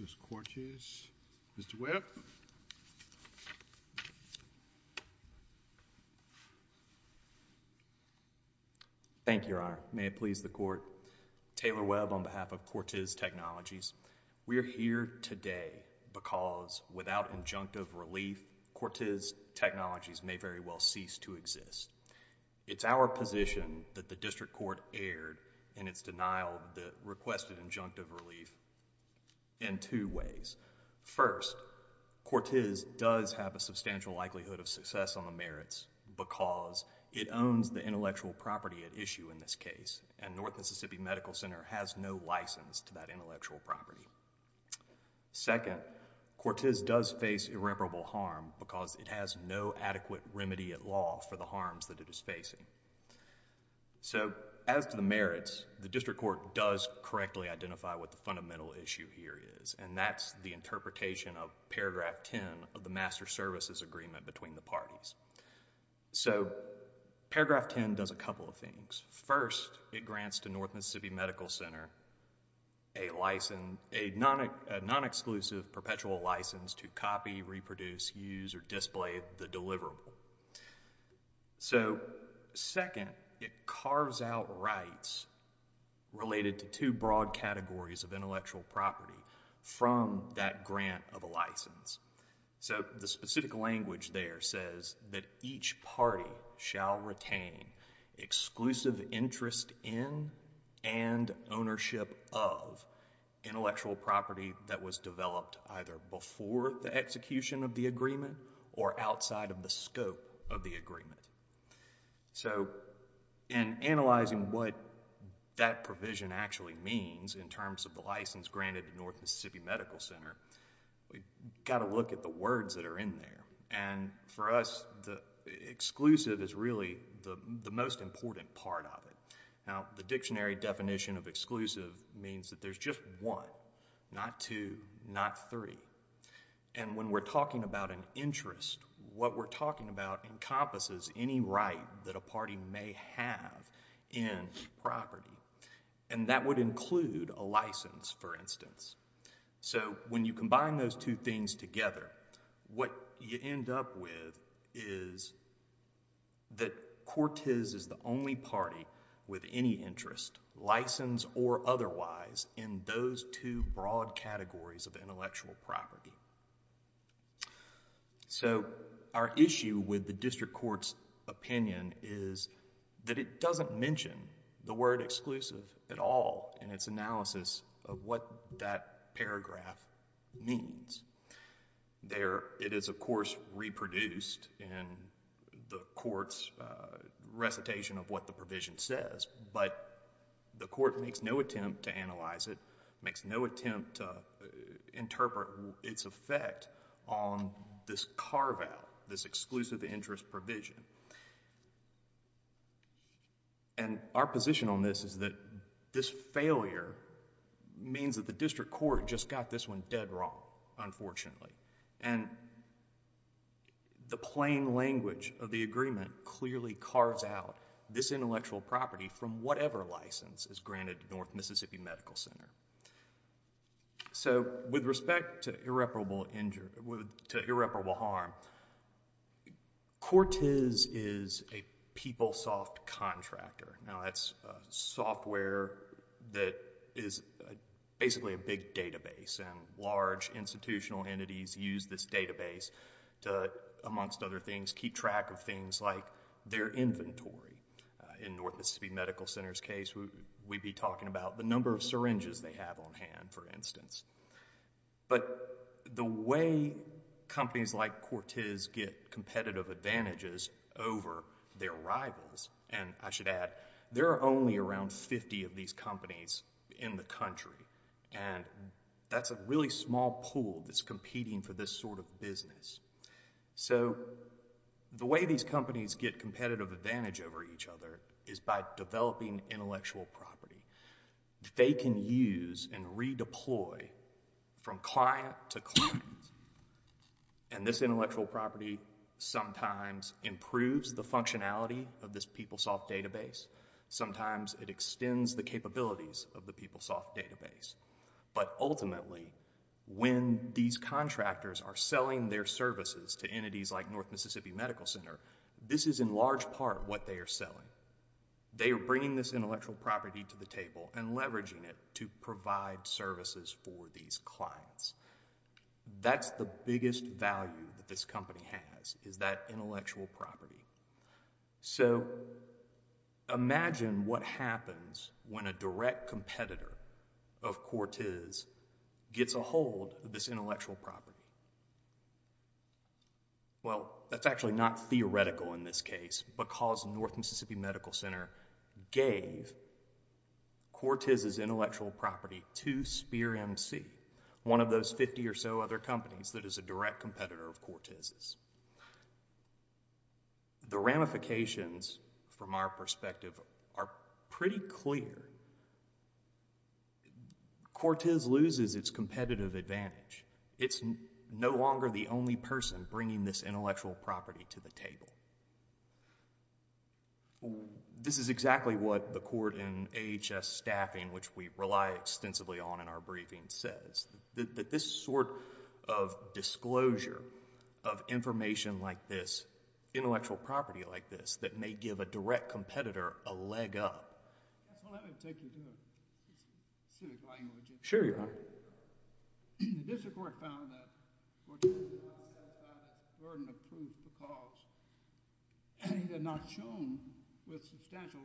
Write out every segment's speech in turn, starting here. Mr. Webb. Thank you, Your Honor. May it please the Court. Taylor Webb on behalf of Quartiz Technologies. We are here today because without injunctive relief, Quartiz Technologies may very well cease to exist. It's our position that the District Court erred in its denial of the requested injunctive relief in two ways. First, Quartiz does have a substantial likelihood of success on the merits because it owns the intellectual property at issue in this case, and North Mississippi Medical Center has no license to that intellectual property. Second, Quartiz does face irreparable harm because it has no adequate remedy at all for the harms that it is facing. So, as to the merits, the District Court does correctly identify what the fundamental issue here is, and that's the interpretation of Paragraph 10 of the Master Services Agreement between the parties. So, Paragraph 10 does a couple of things. First, it grants to North Mississippi Medical Center a non-exclusive perpetual license to copy, reproduce, use, or display the deliverable. So, second, it carves out rights related to two broad categories of intellectual property from that grant of a license. So, the specific language there says that each party shall retain exclusive interest in and ownership of intellectual property that was developed either before the execution of the agreement or outside of the scope of the agreement. So, in analyzing what that provision actually means in terms of the license granted to North Mississippi Medical Center, we've got to look at the words that are in there, and for us, exclusive is really the most important part of it. Now, the dictionary definition of exclusive means that there's just one, not two, not three, and when we're talking about an interest, what we're talking about encompasses any right that a party may have in property, and that would include a license, for instance. So, when you combine those two things together, what you end up with is that Cortez is the only party with any interest, license or otherwise, in those two broad categories of intellectual property. So, our issue with the district court's opinion is that it doesn't mention the word exclusive at all in its analysis of what that paragraph means. It is, of course, reproduced in the court's recitation of what the provision says, but the court makes no attempt to analyze it, makes no attempt to interpret its effect on this carve-out, this exclusive interest provision. And our position on this is that this failure means that the district court just got this one dead wrong, unfortunately. And the plain language of the agreement clearly carves out this intellectual property from whatever license is granted to North Mississippi Medical Center. So, with respect to irreparable harm, Cortez is a PeopleSoft contractor. Now, that's software that is basically a big database, and large institutional entities use this database to, amongst other things, keep track of things like their inventory. In North Mississippi Medical Center's case, we'd be talking about the number of syringes they have on hand, for instance. But the way companies like Cortez get competitive advantages over their rivals, and I should add, there are only around 50 of these companies in the country, and that's a really small pool that's competing for this sort of business. So, the way these companies get competitive advantage over each other is by developing intellectual property. They can use and redeploy from client to client, and this intellectual property sometimes improves the functionality of this PeopleSoft database, sometimes it extends the capabilities of the PeopleSoft database. But ultimately, when these contractors are selling their services to entities like North Mississippi Medical Center, this is in large part what they are selling. They are bringing this intellectual property to the table and leveraging it to provide services for these clients. That's the biggest value that this company has, is that intellectual property. So, imagine what happens when a direct competitor of Cortez gets a hold of this intellectual property. Well, that's actually not theoretical in this case, because North Mississippi Medical Center gave Cortez's intellectual property to Spear MC, one of those 50 or so other companies that is a direct competitor of Cortez's. The ramifications from our perspective are pretty clear. Cortez loses its competitive advantage. It's no longer the only person bringing this intellectual property to the table. This is exactly what the court in AHS staffing, which we rely extensively on in our briefing, says. This sort of disclosure of information like this, intellectual property like this, that may give a direct competitor a leg up...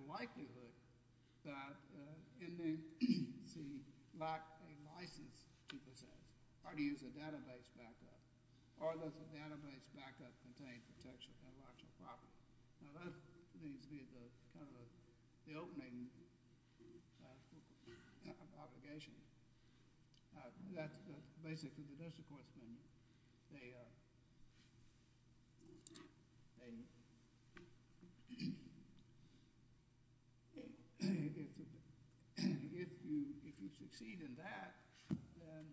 likelihood that MC lacked a license to possess or to use a database backup. Or does the database backup contain intellectual property? Now, that needs to be the opening obligation. That's basically the question. If you succeed in that, then...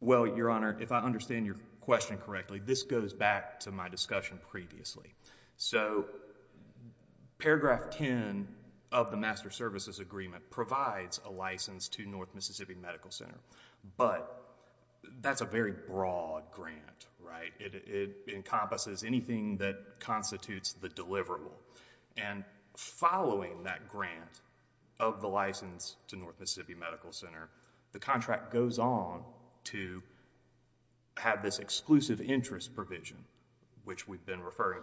Well, your Honor, if I understand your question correctly, this goes back to the fact that... back to my discussion previously. Paragraph 10 of the Master Services Agreement provides a license to North Mississippi Medical Center, but that's a very broad grant. It encompasses anything that constitutes the deliverable. Following that grant of the license to North referring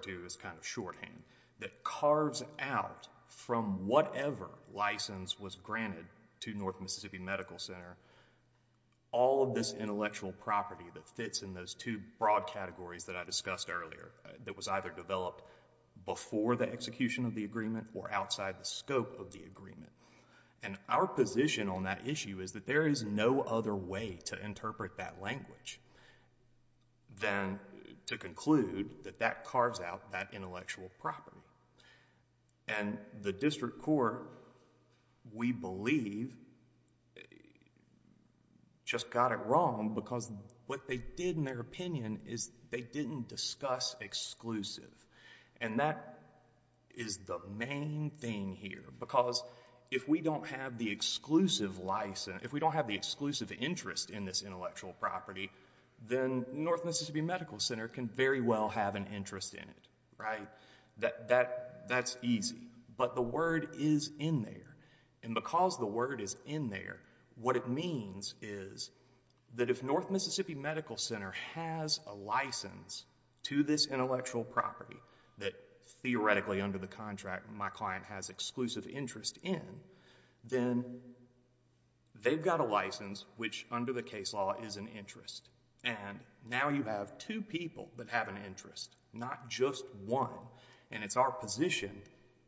to as kind of shorthand, that carves out from whatever license was granted to North Mississippi Medical Center, all of this intellectual property that fits in those two broad categories that I discussed earlier, that was either developed before the execution of the agreement or outside the scope of the agreement. Our position on that issue is that there is no other way to interpret that language than to conclude that that carves out that intellectual property. The district court, we believe, just got it wrong because what they did in their opinion is they didn't discuss exclusive. That is the main thing here because if we don't have the exclusive license, if we don't have the exclusive interest in this intellectual property, then North Mississippi Medical Center can very well have an interest in it. That's easy, but the word is in there. Because the word is in there, what it means is that if North Mississippi Medical Center has a license to this intellectual property that theoretically under the contract my client has exclusive interest in, then they've got a license which under the case law is an interest. Now you have two people that have an interest, not just one, and it's our position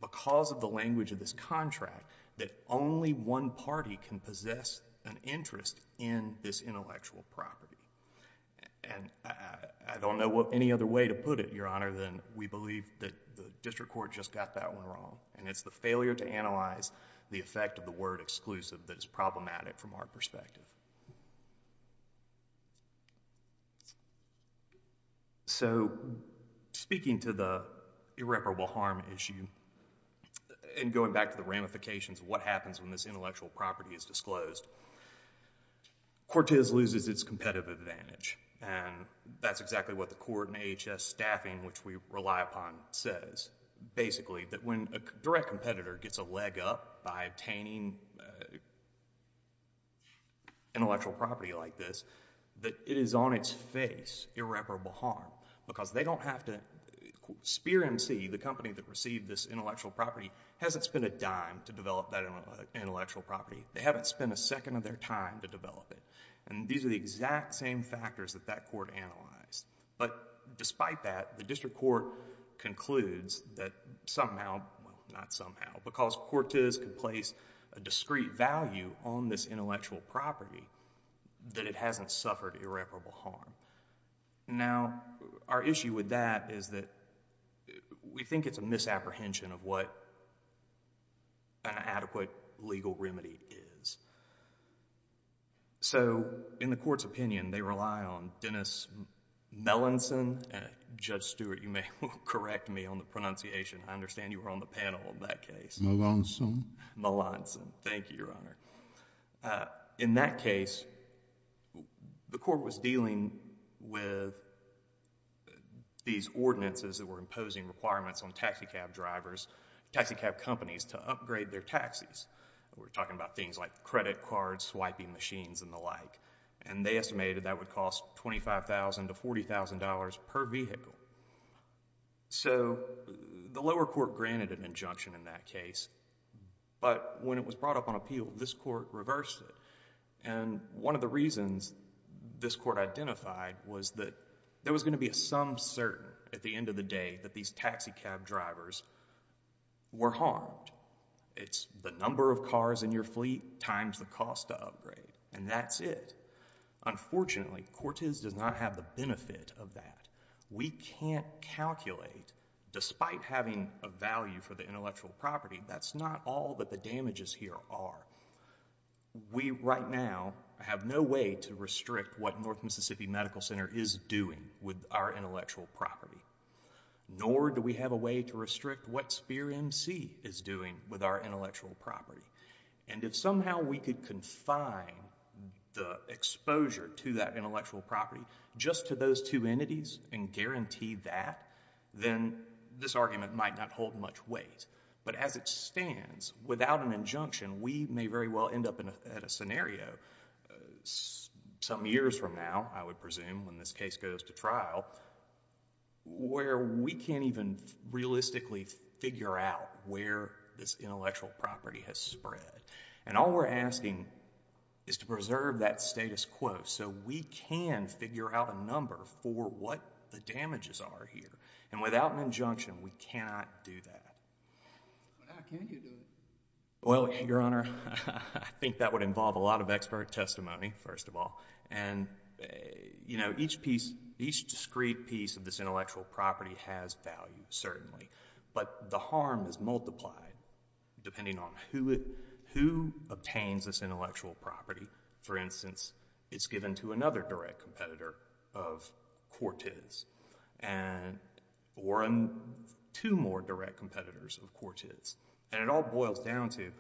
because of the language of this contract that only one party can possess an interest in this intellectual property. I don't know any other way to put it, Your Honor, than we believe that the district court just got that one wrong. It's the failure to analyze the effect of the word exclusive that is problematic from our perspective. Speaking to the irreparable harm issue and going back to the ramifications of what happens when this intellectual property is disclosed, Cortez loses its competitive advantage. That's exactly what the court and AHS staffing, which we rely upon, says. Basically that when a direct competitor gets a leg up by obtaining intellectual property like this, that it is on its face irreparable harm because they don't have to... Speer MC, the company that received this intellectual property, hasn't spent a dime to develop that intellectual property. They haven't spent a second of their time to develop it. These are the exact same factors that that court analyzed. But despite that, the district court concludes that somehow, well, not somehow, because Cortez can place a discrete value on this intellectual property, that it hasn't suffered irreparable harm. Now, our issue with that is that we think it's a misapprehension of what an adequate legal remedy is. So in the court's opinion, they rely on Dennis Melanson. Judge Stewart, you may correct me on the pronunciation. I understand you were on the panel in that case. Melanson. Melanson. Thank you, Your Honor. In that case, the court was dealing with these ordinances that were imposing requirements on taxicab drivers, taxicab companies, to upgrade their taxis. We're talking about things like credit cards, swiping machines, and the like. And they estimated that would cost $25,000 to $40,000 per vehicle. So the lower court granted an injunction in that case. But when it was brought up on appeal, this court reversed it. And one of the reasons this court identified was that there was going to be a sum certain at the end of the day that these taxicab drivers were harmed. It's the number of cars in your property times the cost to upgrade. And that's it. Unfortunately, Cortez does not have the benefit of that. We can't calculate, despite having a value for the intellectual property, that's not all that the damages here are. We, right now, have no way to restrict what North Mississippi Medical Center is doing with our intellectual property. Nor do we have a way to restrict what Speer MC is doing with our intellectual property. And if somehow we could confine the exposure to that intellectual property just to those two entities and guarantee that, then this argument might not hold much weight. But as it stands, without an injunction, we may very well end up at a scenario some years from now, I would presume, when this case goes to trial, where we can't even realistically figure out where this intellectual property has spread. And all we're asking is to preserve that status quo so we can figure out a number for what the damages are here. And without an injunction, we cannot do that. But how can you do it? Well, Your Honor, I think that would involve a lot of expert testimony, first of all. And you know, each discrete piece of this intellectual property has value, certainly. But the harm is multiplied depending on who obtains this intellectual property. For instance, it's given to another direct competitor of Cortez or two more direct competitors of Cortez. And it all boils down to,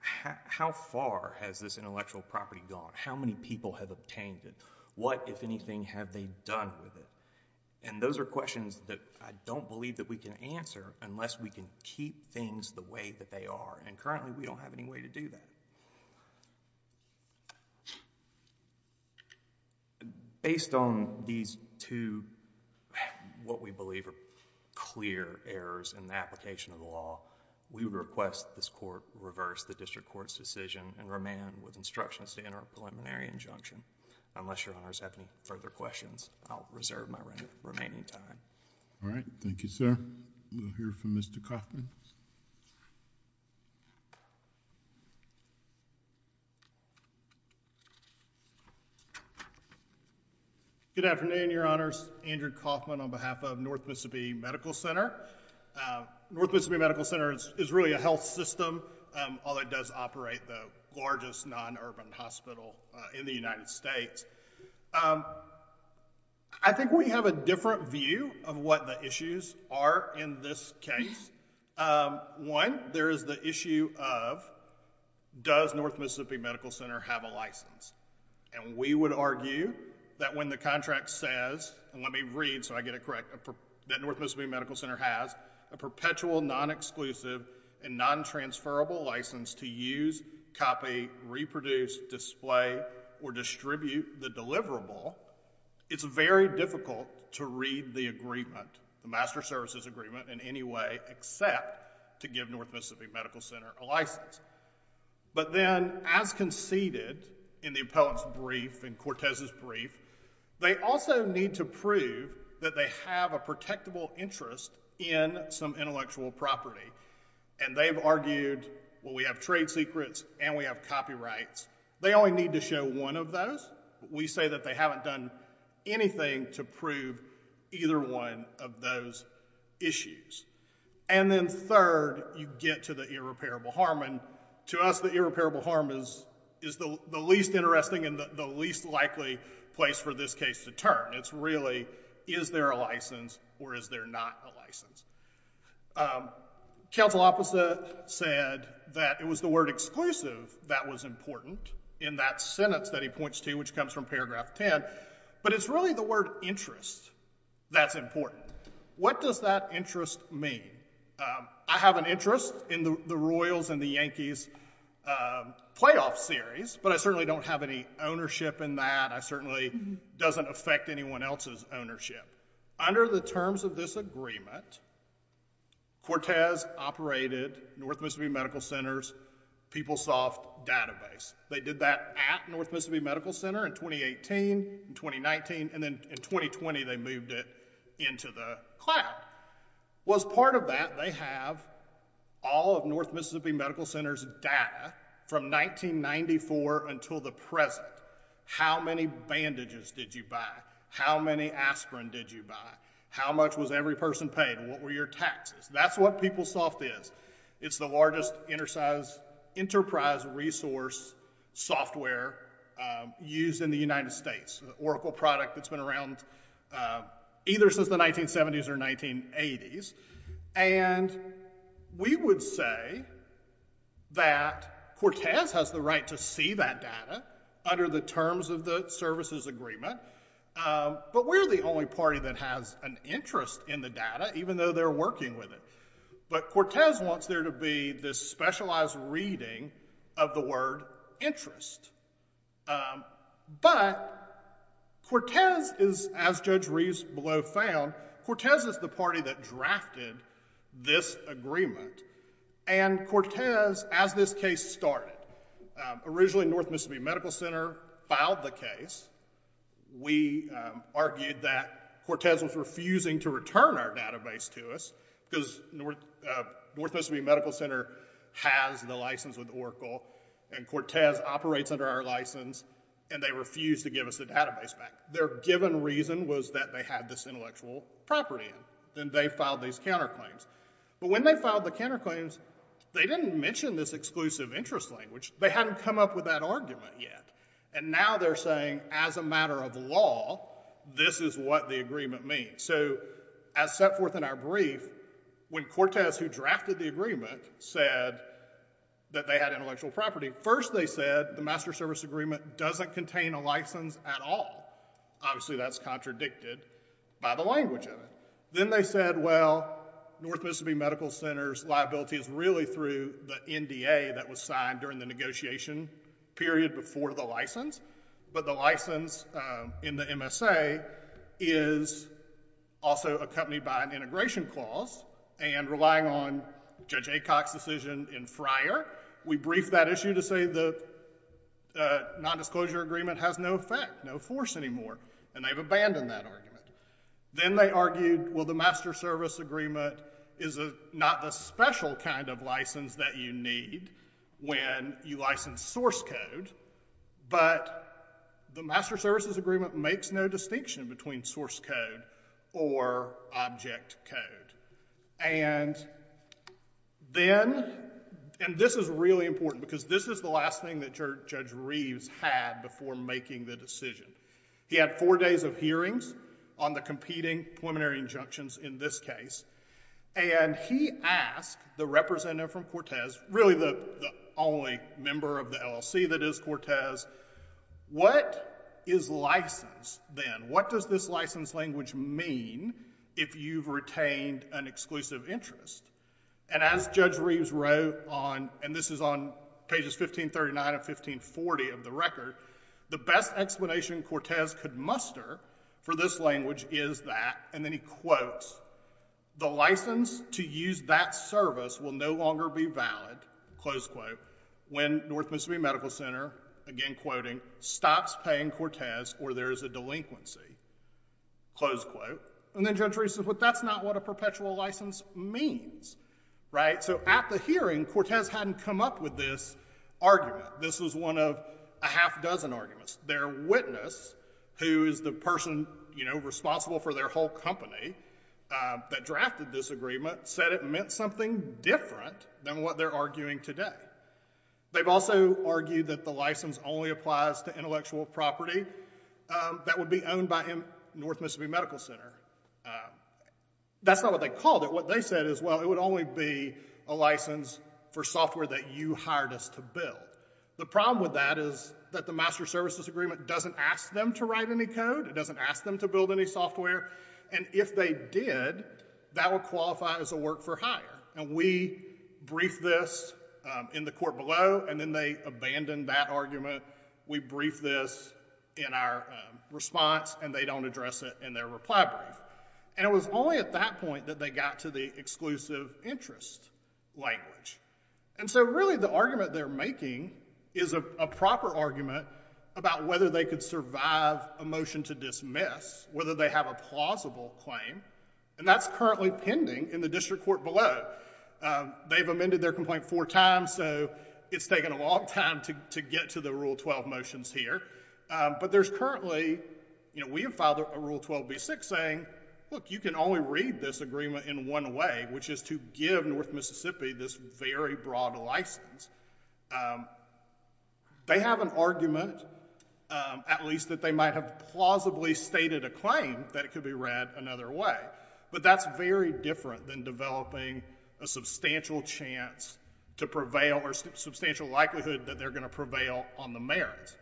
how far has this intellectual property gone? How many people have obtained it? What, if anything, have they done with it? And those are questions that I don't believe that we can answer unless we can keep things the way that they are. And currently, we don't have any way to do that. Based on these two, what we believe are clear errors in the application of the law, we request this Court reverse the district court's decision and remand with instructions to enter a preliminary injunction. Unless Your Honors have any further questions, I'll reserve my remaining time. All right. Thank you, sir. We'll hear from Mr. Kaufman. Good afternoon, Your Honors. Andrew Kaufman on behalf of North Mississippi Medical Center. North Mississippi Medical Center is really a health system, although it does operate the largest non-urban hospital in the United States. I think we have a different view of what the issues are in this case. One, there is the issue of, does North Mississippi Medical Center have a license? And we would argue that when the contract says, and let me read so I get it correct, that North Mississippi Medical Center has a perpetual non-exclusive and non-transferable license to use, copy, reproduce, display, or distribute the deliverable, it's very difficult to read the agreement, the master services agreement in any way except to give North Mississippi Medical Center a license. But then, as conceded in the appellate's brief and Cortez's brief, they also need to prove that they have a protectable interest in some intellectual property. And they've argued, well, we have trade secrets and we have copyrights. They only need to show one of those. We say that they haven't done anything to prove either one of those issues. And then third, you get to the irreparable harm. And to us, the irreparable harm is the least interesting and the least likely place for this case to burn. It's really, is there a license or is there not a license? Counsel opposite said that it was the word exclusive that was important in that sentence that he points to, which comes from paragraph 10. But it's really the word interest that's important. What does that interest mean? I have an interest in the Royals and the Yankees playoff series, but I certainly don't have any ownership in that. It certainly doesn't affect anyone else's ownership. Under the terms of this agreement, Cortez operated North Mississippi Medical Center's PeopleSoft database. They did that at North Mississippi Medical Center in 2018, in 2019, and then in 2020, they moved it into the cloud. Well, as part of that, they have all of North Mississippi Medical Center's data from 1994 until the present. How many bandages did you buy? How many aspirin did you buy? How much was every person paid? What were your taxes? That's what PeopleSoft is. It's the largest enterprise resource software used in the United States. Oracle product that's been around either since the 1970s or 1980s. We would say that Cortez has the right to see that data under the terms of the services agreement, but we're the only party that has an interest in the data, even though they're working with it. But Cortez wants there to be this specialized reading of the word interest. But Cortez is, as Judge Reeves-Blow found, Cortez is the party that drafted this agreement. And Cortez, as this case started, originally North Mississippi Medical Center filed the case. We argued that Cortez was refusing to return our database to us because North Mississippi Medical Center has the license with Oracle and Cortez operates under our license, and they refused to give us the database back. Their given reason was that they had this intellectual property, and they filed these counterclaims. But when they filed the counterclaims, they didn't mention this exclusive interest language. They hadn't come up with that argument yet. And now they're saying, as a matter of law, this is what the agreement means. So as set forth in our brief, when Cortez, who drafted the agreement, said that they had intellectual property, first they said the Master Service Agreement doesn't contain a license at all. Obviously that's contradicted by the language of it. Then they said, well, North Mississippi Medical Center's liability is really through the NDA that was signed during the negotiation period before the license, but the license in the MSA is also accompanied by an integration clause, and relying on Judge Rowe's non-disclosure agreement has no effect, no force anymore, and they've abandoned that argument. Then they argued, well, the Master Service Agreement is not the special kind of license that you need when you license source code, but the Master Services Agreement makes no distinction between source code or object code. And then, and this is really what Judge Reeves had before making the decision. He had four days of hearings on the competing preliminary injunctions in this case, and he asked the representative from Cortez, really the only member of the LLC that is Cortez, what is license then? What does this license language mean if you've retained an exclusive interest? And as Judge Reeves wrote on, and this is 1540 of the record, the best explanation Cortez could muster for this language is that, and then he quotes, the license to use that service will no longer be valid, close quote, when North Mississippi Medical Center, again quoting, stops paying Cortez or there is a delinquency, close quote. And then Judge Reeves said, but that's not what a perpetual license means, right? So at the hearing, Cortez hadn't come up with this argument. This was one of a half dozen arguments. Their witness, who is the person, you know, responsible for their whole company that drafted this agreement, said it meant something different than what they're arguing today. They've also argued that the license only applies to intellectual property that would be owned by North Mississippi Medical Center. That's not what they called it. What they said is, well, it would only be a license for software that you hired us to build. The problem with that is that the Master Services Agreement doesn't ask them to write any code. It doesn't ask them to build any software. And if they did, that would qualify as a work for hire. And we briefed this in the court below, and then they abandoned that argument. We briefed this in our response, and they don't address it in their reply brief. And it was only at that point that they got to the exclusive interest language. And so really the argument they're making is a proper argument about whether they could survive a motion to dismiss, whether they have a plausible claim. And that's currently pending in the district court below. They've amended their complaint four times, so it's taken a long time to get to the Rule 12 motions here. But there's currently, you know, we have filed a Rule 12b6 saying, look, you can only read this agreement in one way, which is to give North Mississippi this very broad license. They have an argument, at least that they might have plausibly stated a claim that it could be read another way. But that's very different than developing a substantial chance to prevail or substantial likelihood that they're going to prevail on the merits,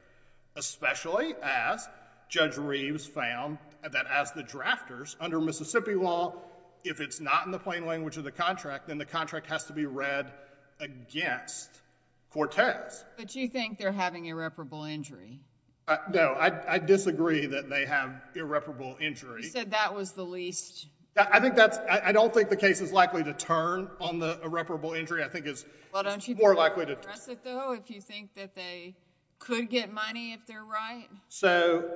especially as Judge Reeves found that as the drafters under Mississippi law, if it's not in the plain language of the contract, then the contract has to be read against Cortez. But you think they're having irreparable injury? No, I disagree that they have irreparable injury. You said that was the least... I think that's... I don't think the case is likely to turn on the irreparable injury. I think it's more likely to... Do you stress it, though, if you think that they could get money if they're right? So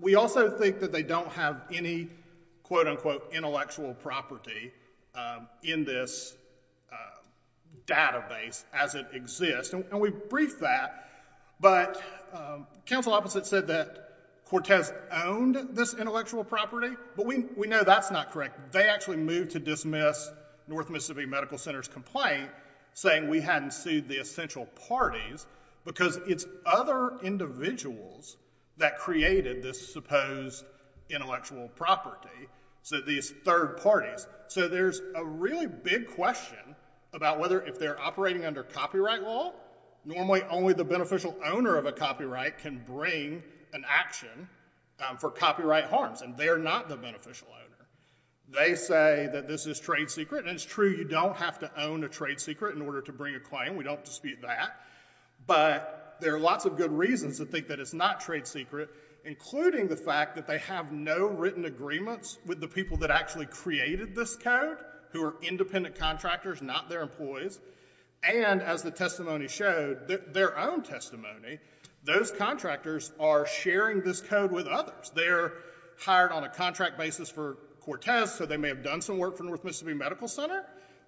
we also think that they don't have any, quote-unquote, intellectual property in this database as it exists. And we briefed that. But counsel opposite said that Cortez owned this intellectual property. But we know that's not correct. They actually moved to dismiss North Mississippi Medical Center's complaint, saying we hadn't sued the essential parties because it's other individuals that created this supposed intellectual property, so these third parties. So there's a really big question about whether, if they're operating under copyright law, normally only the beneficial owner of a copyright can bring an action for copyright harms. And they're not the beneficial owner. They say that this is trade secret. And it's true, you don't have to own a trade secret in order to bring a claim. We don't dispute that. But there are lots of good reasons to think that it's not trade secret, including the fact that they have no written agreements with the people that actually created this code, who are independent contractors, not their employees. And as the testimony showed, their own testimony, those contractors are sharing this code with others. They're hired on a contract basis for Cortez, so they may have done some work for North Mississippi Medical Center,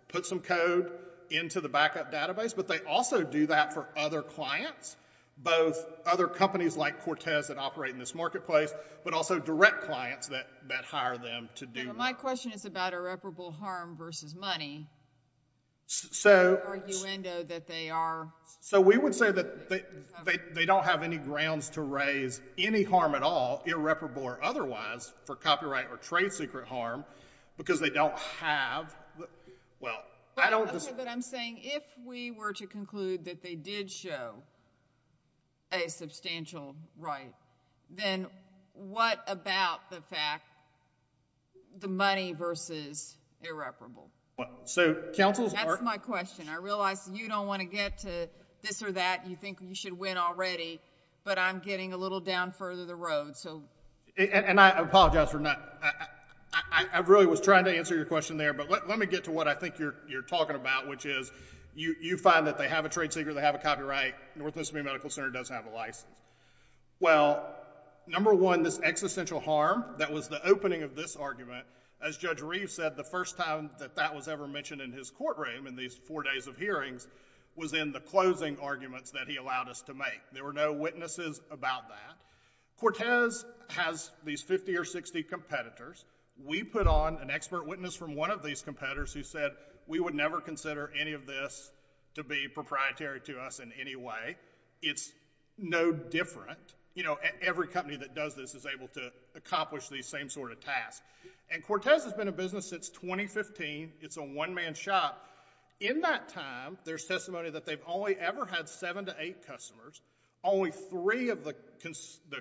put some code into the backup database, but they also do that for other clients, both other companies like Cortez that operate in this marketplace, but also direct clients that hire them to do work. My question is about irreparable harm versus money, the argumento that they are... So we would say that they don't have any grounds to raise any harm at all, irreparable or otherwise, for copyright or trade secret harm, because they don't have, well, I don't... Okay, but I'm saying if we were to conclude that they did show a substantial right, then what about the fact, the money versus irreparable? That's my question. I realize you don't want to get to this or that, you think you should win already, but I'm getting a little down further the road, so... And I apologize for not... I really was trying to answer your question there, but let me get to what I think you're talking about, which is you find that they have a trade secret, they have a copyright, North Mississippi Medical Center does have a license. Well, number one, this existential harm that was the opening of this argument, as Judge Reeves said, the first time that that was ever mentioned in his courtroom, in these four days of hearings, was in the closing arguments that he allowed us to make. There were no witnesses about that. Cortez has these 50 or 60 competitors. We put on an expert witness from one of these competitors who said, we would never consider any of this to be proprietary to us in any way. It's no different. Every company that does this is able to accomplish these same sort of tasks. And Cortez has been in business since 2015. It's a one-man shop. In that time, there's testimony that they've only ever had seven to eight customers. Only three of the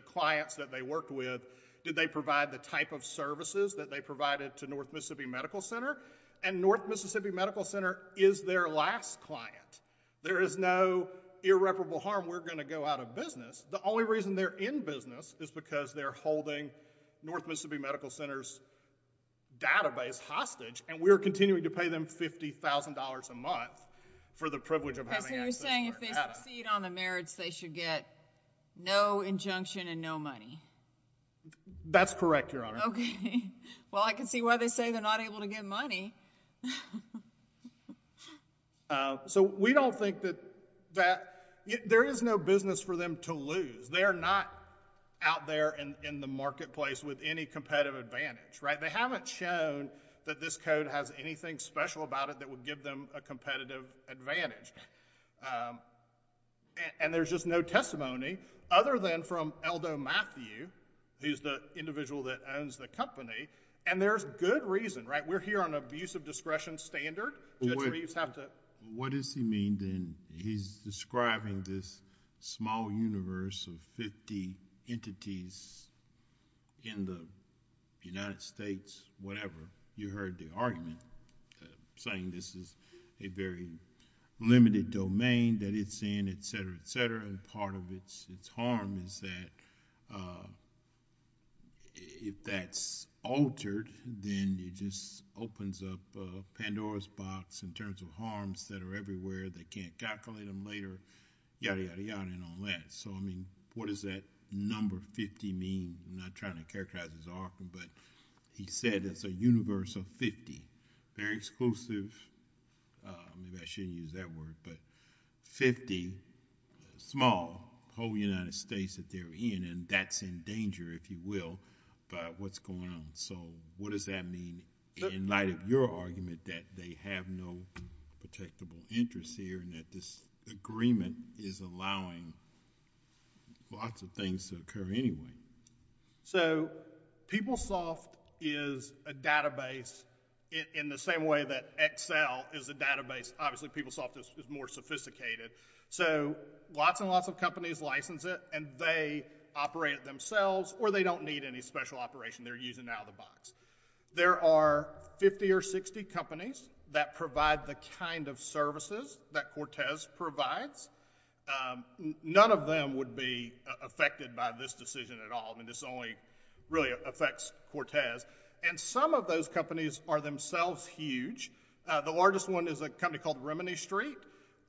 clients that they worked with did they provide the type of services that they provided to North Mississippi Medical Center, and North Mississippi Medical Center is their last client. There is no irreparable harm. We're going to go out of business. The only reason they're in business is because they're holding North Mississippi Medical Center's database hostage, and we're continuing to pay them $50,000 a month for the privilege of having access to So you're saying if they succeed on the merits, they should get no injunction and no money? That's correct, Your Honor. Okay. Well, I can see why they say they're not able to get money. So we don't think that there is no business for them to lose. They're not out there in the marketplace with any competitive advantage. They haven't shown that this code has anything special about it that would give them a competitive advantage. And there's just no testimony other than from Eldo Matthew, who's the individual that owns the company, and there's good reason. We're here on an abuse of discretion standard. Judge Reeves have to... What does he mean then? He's describing this small universe of fifty entities in the United States, whatever. You heard the argument saying this is a very limited domain that it's in, and part of its harm is that if that's altered, then it just opens up Pandora's box in terms of harms that are everywhere. They can't calculate them later, yada, yada, yada, and all that. So, I mean, what does that number 50 mean? I'm not trying to characterize his argument, but he said it's a universe of 50. Very exclusive. Maybe I shouldn't use that word, but 50 small whole United States that they're in, and that's in danger, if you will, by what's going on. So, what does that mean in light of your argument that they have no protectable interests here and that this agreement is allowing lots of things to occur anyway? So, PeopleSoft is a database in the same way that Excel is a database. Obviously, PeopleSoft is more sophisticated. So, lots and lots of companies license it, and they operate it themselves, or they don't need any special operation. They're using out of the box. There are 50 or 60 companies that provide the kind of services that Cortez provides. None of them would be affected by this decision at all. I mean, this only really affects Cortez, and some of those companies are themselves huge. The largest one is a company called Remedy Street,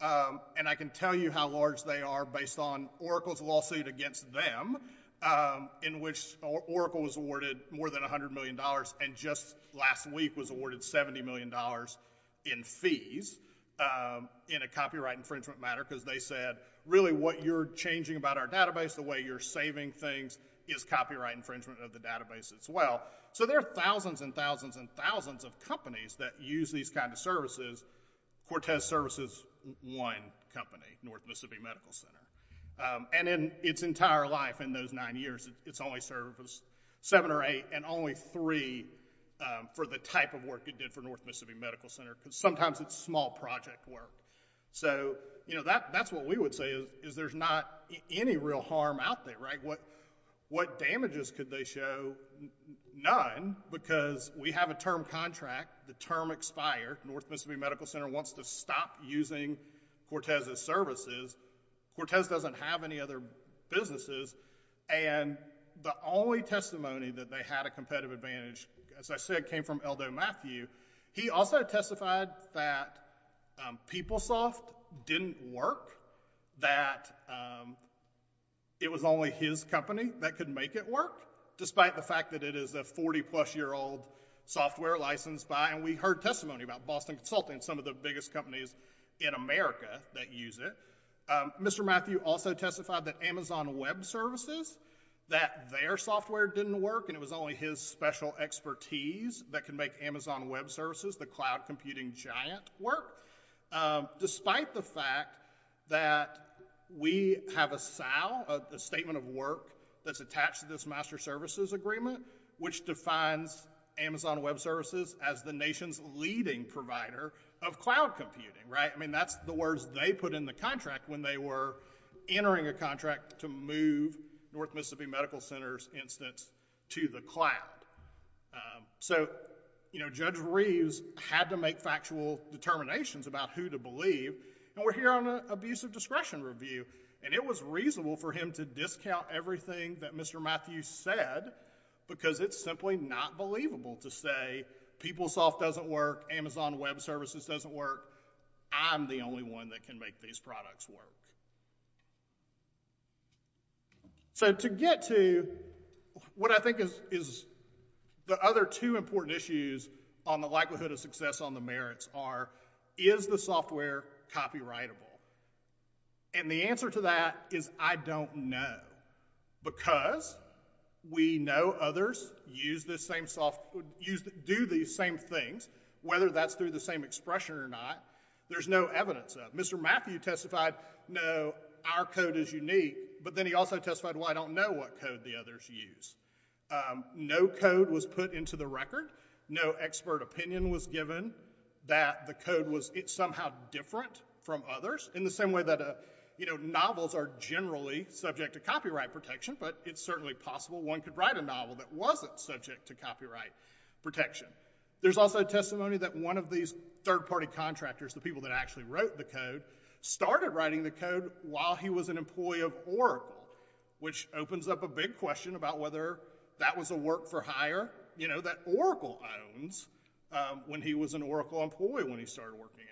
and I can tell you how large they are based on Oracle's lawsuit against them, in which Oracle was awarded more than $100 million, and just last week was awarded $70 million in fees in a copyright infringement matter, because they said, really, what you're changing about our database, the way you're saving things, is copyright infringement of the database as well. So, there are thousands and thousands and thousands of companies that use these kind of services. Cortez services one company, North Mississippi Medical Center, and in its entire life, in those nine years, it's only served seven or eight, and only three for the type of work it did for North Mississippi Medical Center, because sometimes it's small project work. So, that's what we would say, is there's not any real harm out there, right? What damages could they show? None, because we have a term contract. The term expired. North Mississippi Medical Center wants to stop using Cortez's services. Cortez doesn't have any other businesses, and the only testimony that they had a competitive advantage, as I said, came from Eldo Matthew. He also testified that PeopleSoft didn't work, that it was only his company that could make it work, despite the fact that it is a 40-plus-year-old software licensed by, and we heard testimony about Boston Consulting, some of the biggest companies in America that use it. Mr. Matthew also testified that Amazon Web Services, that their software didn't work, and it was only his special expertise that could make Amazon Web Services, the cloud computing giant, work, despite the fact that we have a SAL, a statement of work that's attached to this master services agreement, which defines Amazon Web Services as the nation's leading provider of cloud computing, right? I mean, that's the words they put in the contract when they were entering a contract to move North Mississippi Medical Center's instance to the cloud. Um, so, you know, Judge Reeves had to make factual determinations about who to believe, and we're here on an abusive discretion review, and it was reasonable for him to discount everything that Mr. Matthew said, because it's simply not believable to say PeopleSoft doesn't work, Amazon Web Services doesn't work, I'm the only one that can make these products work. So, to get to what I think is, is the other two important issues on the likelihood of success on the merits are, is the software copyrightable? And the answer to that is, I don't know, because we know others use this same soft, use, do these same things, whether that's through the same expression or not, there's no evidence of it. Mr. Matthew testified, no, our code is unique, but then he also testified, well, I don't know what code the others use. Um, no code was put into the record, no expert opinion was given that the code was, it's somehow different from others, in the same way that, you know, novels are generally subject to copyright protection, but it's certainly possible one could write a novel that wasn't subject to copyright protection. There's also testimony that one of these third party contractors, the people that actually wrote the code, started writing the code while he was an employee of Oracle, which opens up a big question about whether that was a work for hire, you know, that Oracle owns, um, when he was an Oracle employee when he started working there.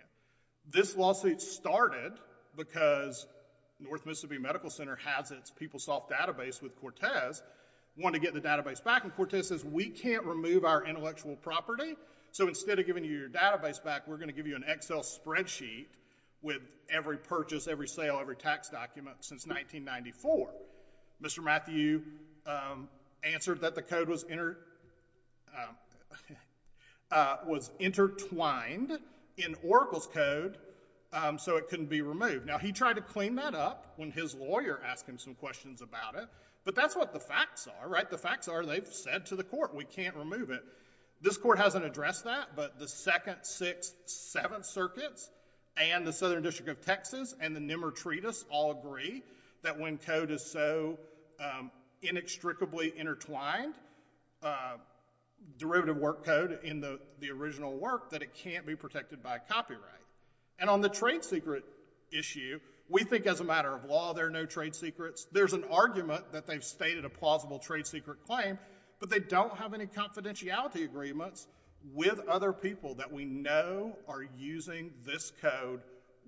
This lawsuit started because North Mississippi Medical Center has its PeopleSoft database with Cortez, wanted to get the database back, and so instead of giving you your database back, we're going to give you an Excel spreadsheet with every purchase, every sale, every tax document since 1994. Mr. Matthew, um, answered that the code was inter, um, uh, was intertwined in Oracle's code, um, so it couldn't be removed. Now, he tried to clean that up when his lawyer asked him some questions about it, but that's what the facts are, right? The facts are, they've said to the court, we can't remove it. This court hasn't addressed that, but the 2nd, 6th, 7th circuits and the Southern District of Texas and the Nemer Treatise all agree that when code is so, um, inextricably intertwined, uh, derivative work code in the, the original work, that it can't be protected by copyright. And on the trade secret issue, we think as a matter of law, there are no trade secrets. There's an argument that they've stated a plausible trade secret claim, but they don't have any confidentiality agreements with other people that we know are using this code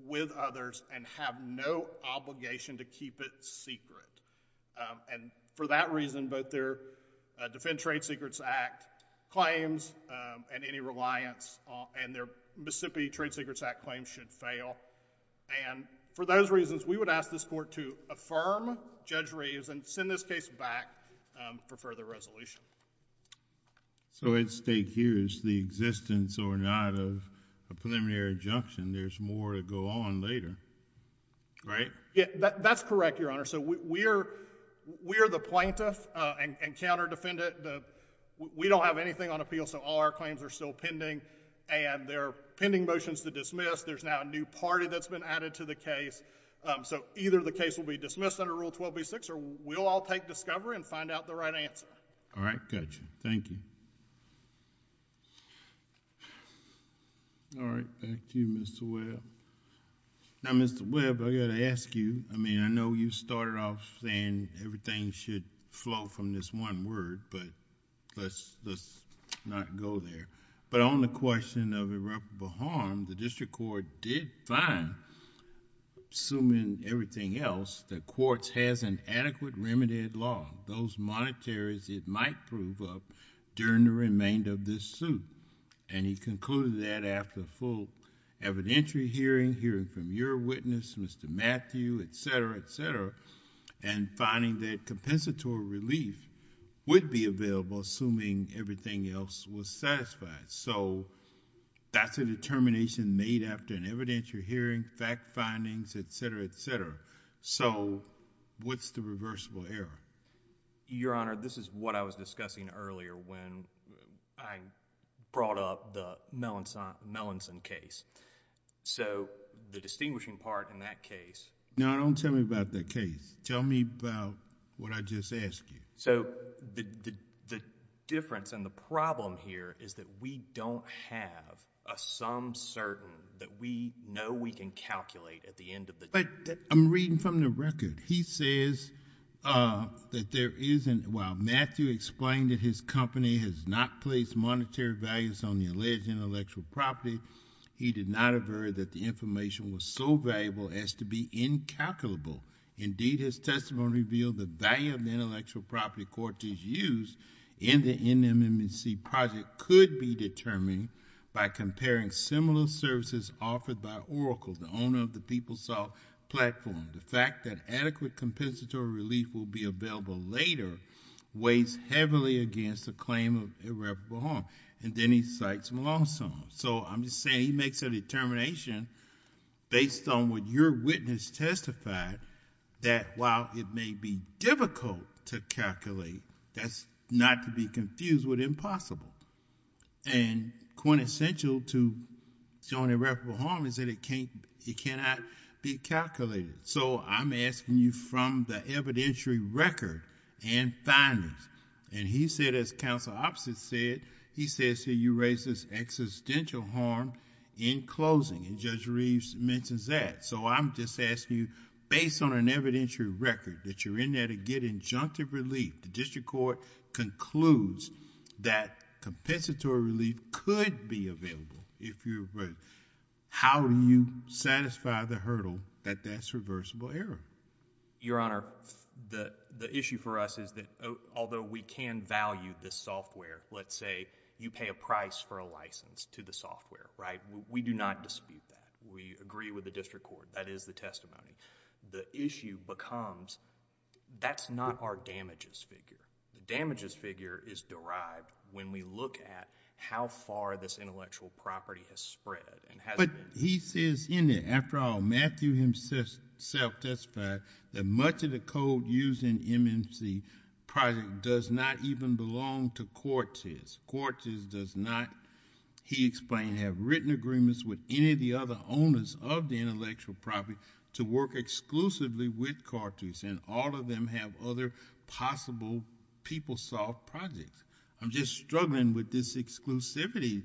with others and have no obligation to keep it secret. Um, and for that reason, both their, uh, Defend Trade Secrets Act claims, um, and any reliance on, and their Mississippi Trade Secrets Act claims should fail. And for those reasons, we would ask this court to affirm Judge Reeves and send this case back, um, for further resolution. So at stake here is the existence or not of a preliminary injunction. There's more to go on later, right? Yeah, that, that's correct, Your Honor. So we, we are, we are the plaintiff, uh, and, and counter defendant. The, we don't have anything on appeal, so all our claims are still pending and they're pending motions to dismiss. There's now a new party that's been or we'll all take discovery and find out the right answer. All right. Gotcha. Thank you. All right. Back to you, Mr. Webb. Now, Mr. Webb, I got to ask you, I mean, I know you started off saying everything should flow from this one word, but let's, let's not go there. But on the question of irreparable harm, the district court did find, assuming everything else, the courts has an adequate remitted law, those monetaries it might prove up during the remainder of this suit. And he concluded that after a full evidentiary hearing, hearing from your witness, Mr. Matthew, et cetera, et cetera, and finding that compensatory relief would be available assuming everything else was satisfied. So that's a determination made after an evidentiary hearing, fact findings, et cetera, et cetera. So what's the reversible error? Your Honor, this is what I was discussing earlier when I brought up the Melanson, Melanson case. So the distinguishing part in that case... Now, don't tell me about the case. Tell me about what I just asked you. So the difference and the problem here is that we don't have a sum certain that we know we can calculate at the end of the... But I'm reading from the record. He says that there isn't, while Matthew explained that his company has not placed monetary values on the alleged intellectual property, he did not avert that the information was so valuable as to be incalculable. Indeed, his testimony revealed the value of the intellectual property court is used in the NMNC project could be determined by comparing similar services offered by Oracle, the owner of the PeopleSoft platform. The fact that adequate compensatory relief will be available later weighs heavily against the claim of irreparable harm. And then he cites Melanson. So I'm just saying he makes a determination based on what your witness testified that while it may be difficult to calculate, that's not to be confused with impossible. And quintessential to showing irreparable harm is that it cannot be calculated. So I'm asking you based on an evidentiary record that you're in there to get injunctive relief. The district court concludes that compensatory relief could be available if you're... How do you satisfy the hurdle that that's reversible error? Your Honor, the issue for us is that although we can value this software, let's say you pay a price for a license to the software, right? We do not dispute that. We agree with the district court. That is the testimony. The issue becomes that's not our damages figure. The damages figure is derived when we look at how far this intellectual property has spread. But he says in there, after all, Matthew himself testified that much of the code used in MMC Project does not even belong to Cortes. Cortes does not, he explained, have written agreements with any of the other owners of the intellectual property to work exclusively with Cortes. And all of them have other possible PeopleSoft projects. I'm just struggling with this exclusivity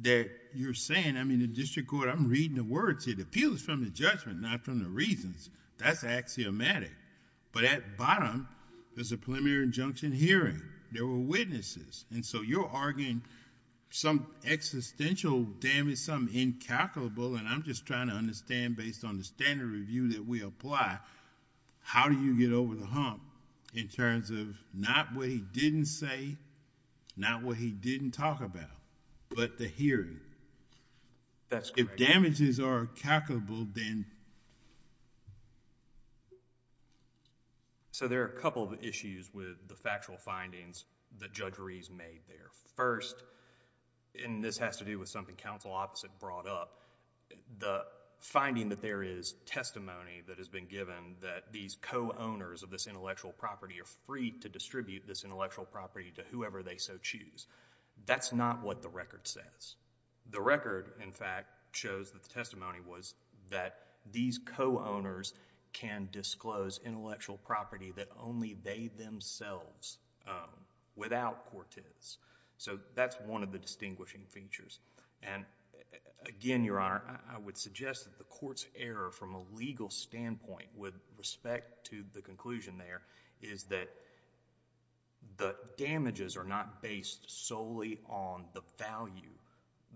that you're saying. In the district court, I'm reading the words. It appeals from the judgment, not from the reasons. That's axiomatic. But at bottom, there's a preliminary injunction hearing. There were witnesses. You're arguing some existential damage, something incalculable. I'm just trying to understand based on the standard review that we apply, how do you get over the hump in terms of not what he didn't say, not what he didn't talk about, but the hearing? That's correct. If damages are calculable, then... So there are a couple of issues with the factual findings that Judge Rees made there. First, and this has to do with something counsel opposite brought up, the finding that there is testimony that has been given that these co-owners of this intellectual property are to distribute this intellectual property to whoever they so choose. That's not what the record says. The record, in fact, shows that the testimony was that these co-owners can disclose intellectual property that only they themselves, without Cortes. So that's one of the distinguishing features. And again, Your Honor, I would suggest that the court's error from a legal standpoint with respect to the conclusion there is that the damages are not based solely on the value,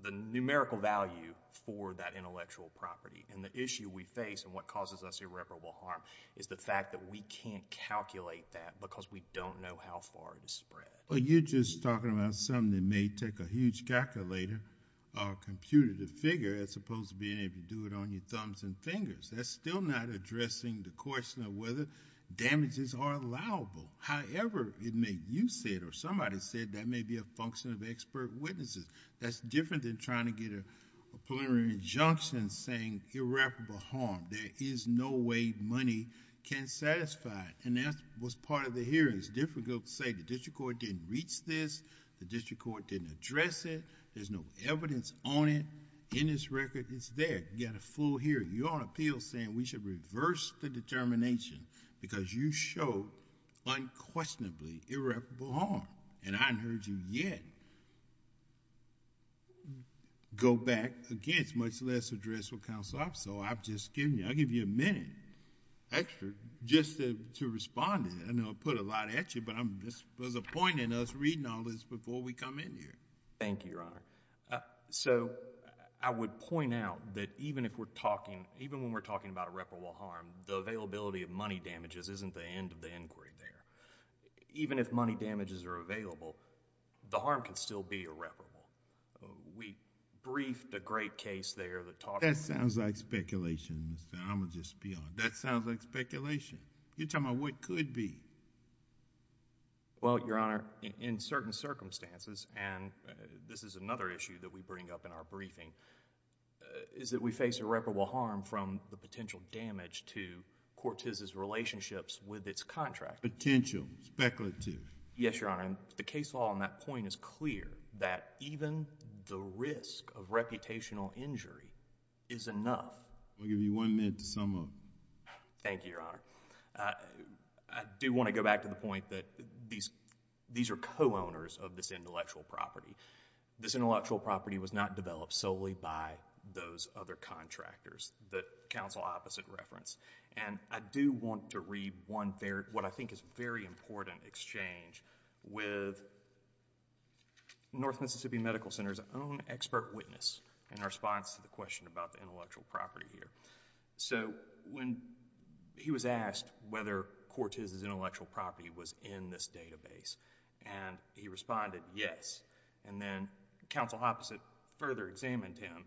the numerical value for that intellectual property. And the issue we face and what causes us irreparable harm is the fact that we can't calculate that because we don't know how far it is spread. Well, you're just talking about something that may take a huge calculator or computer to figure as opposed to being able to do it on your thumbs and fingers. That's still not addressing the question of whether damages are allowable. However, it may, you said, or somebody said, that may be a function of expert witnesses. That's different than trying to get a preliminary injunction saying irreparable harm. There is no way money can satisfy it. And that was part of the hearing. It's difficult to say the district court didn't reach this, the district court didn't address it, there's no evidence on it. In this record, it's there. You've got a full hearing. You're on appeal saying we should reverse the determination because you show unquestionably irreparable harm. And I haven't heard you yet go back against, much less address with counsel. So I've just given you, I'll give you a minute extra just to respond to that. I know I put a lot at you, but I'm just disappointing us reading all this before we come in here. Thank you, Your Honor. So I would point out that even if we're talking, even when we're talking about irreparable harm, the availability of money damages isn't the end of the inquiry there. Even if money damages are available, the harm can still be irreparable. We briefed a great case there that talked about it. That sounds like speculation, Mr. Amadou Spill. That sounds like speculation. You're talking about what could be. Well, Your Honor, in certain circumstances, and this is another issue that we bring up in our briefing, is that we face irreparable harm from the potential damage to Cortez's relationships with its contractor. Potential. Speculative. Yes, Your Honor. The case law on that point is clear that even the risk of reputational injury is enough. I'll give you one minute to sum up. Thank you, Your Honor. I do want to go back to the point that these are co-owners of this intellectual property. This intellectual property was not developed solely by those other contractors that counsel opposite referenced. I do want to read one, what I think is a very important exchange with North Mississippi Medical Center's own expert witness in response to the question about the intellectual property here. When he was asked whether Cortez's intellectual property was in this database, he responded, yes. Then counsel opposite further examined him,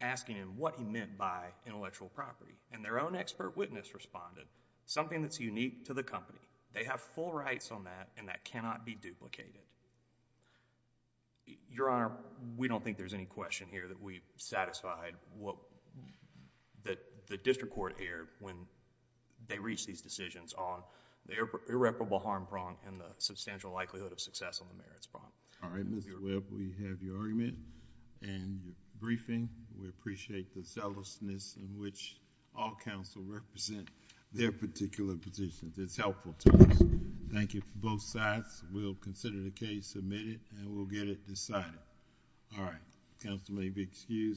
asking him what he meant by intellectual property. Their own expert witness responded, something that's unique to the company. They have full rights on that, and that cannot be duplicated. Your Honor, we don't think there's any question here that we've satisfied what the district court aired when they reached these decisions on the irreparable harm prong and the substantial likelihood of success on the merits prong. All right, Mr. Webb. We have your argument and your briefing. We appreciate the zealousness in which all counsel represent their particular positions. It's helpful to us. Thank you from both sides. We'll consider the case submitted, and we'll get it decided. All right. Counsel may be excused.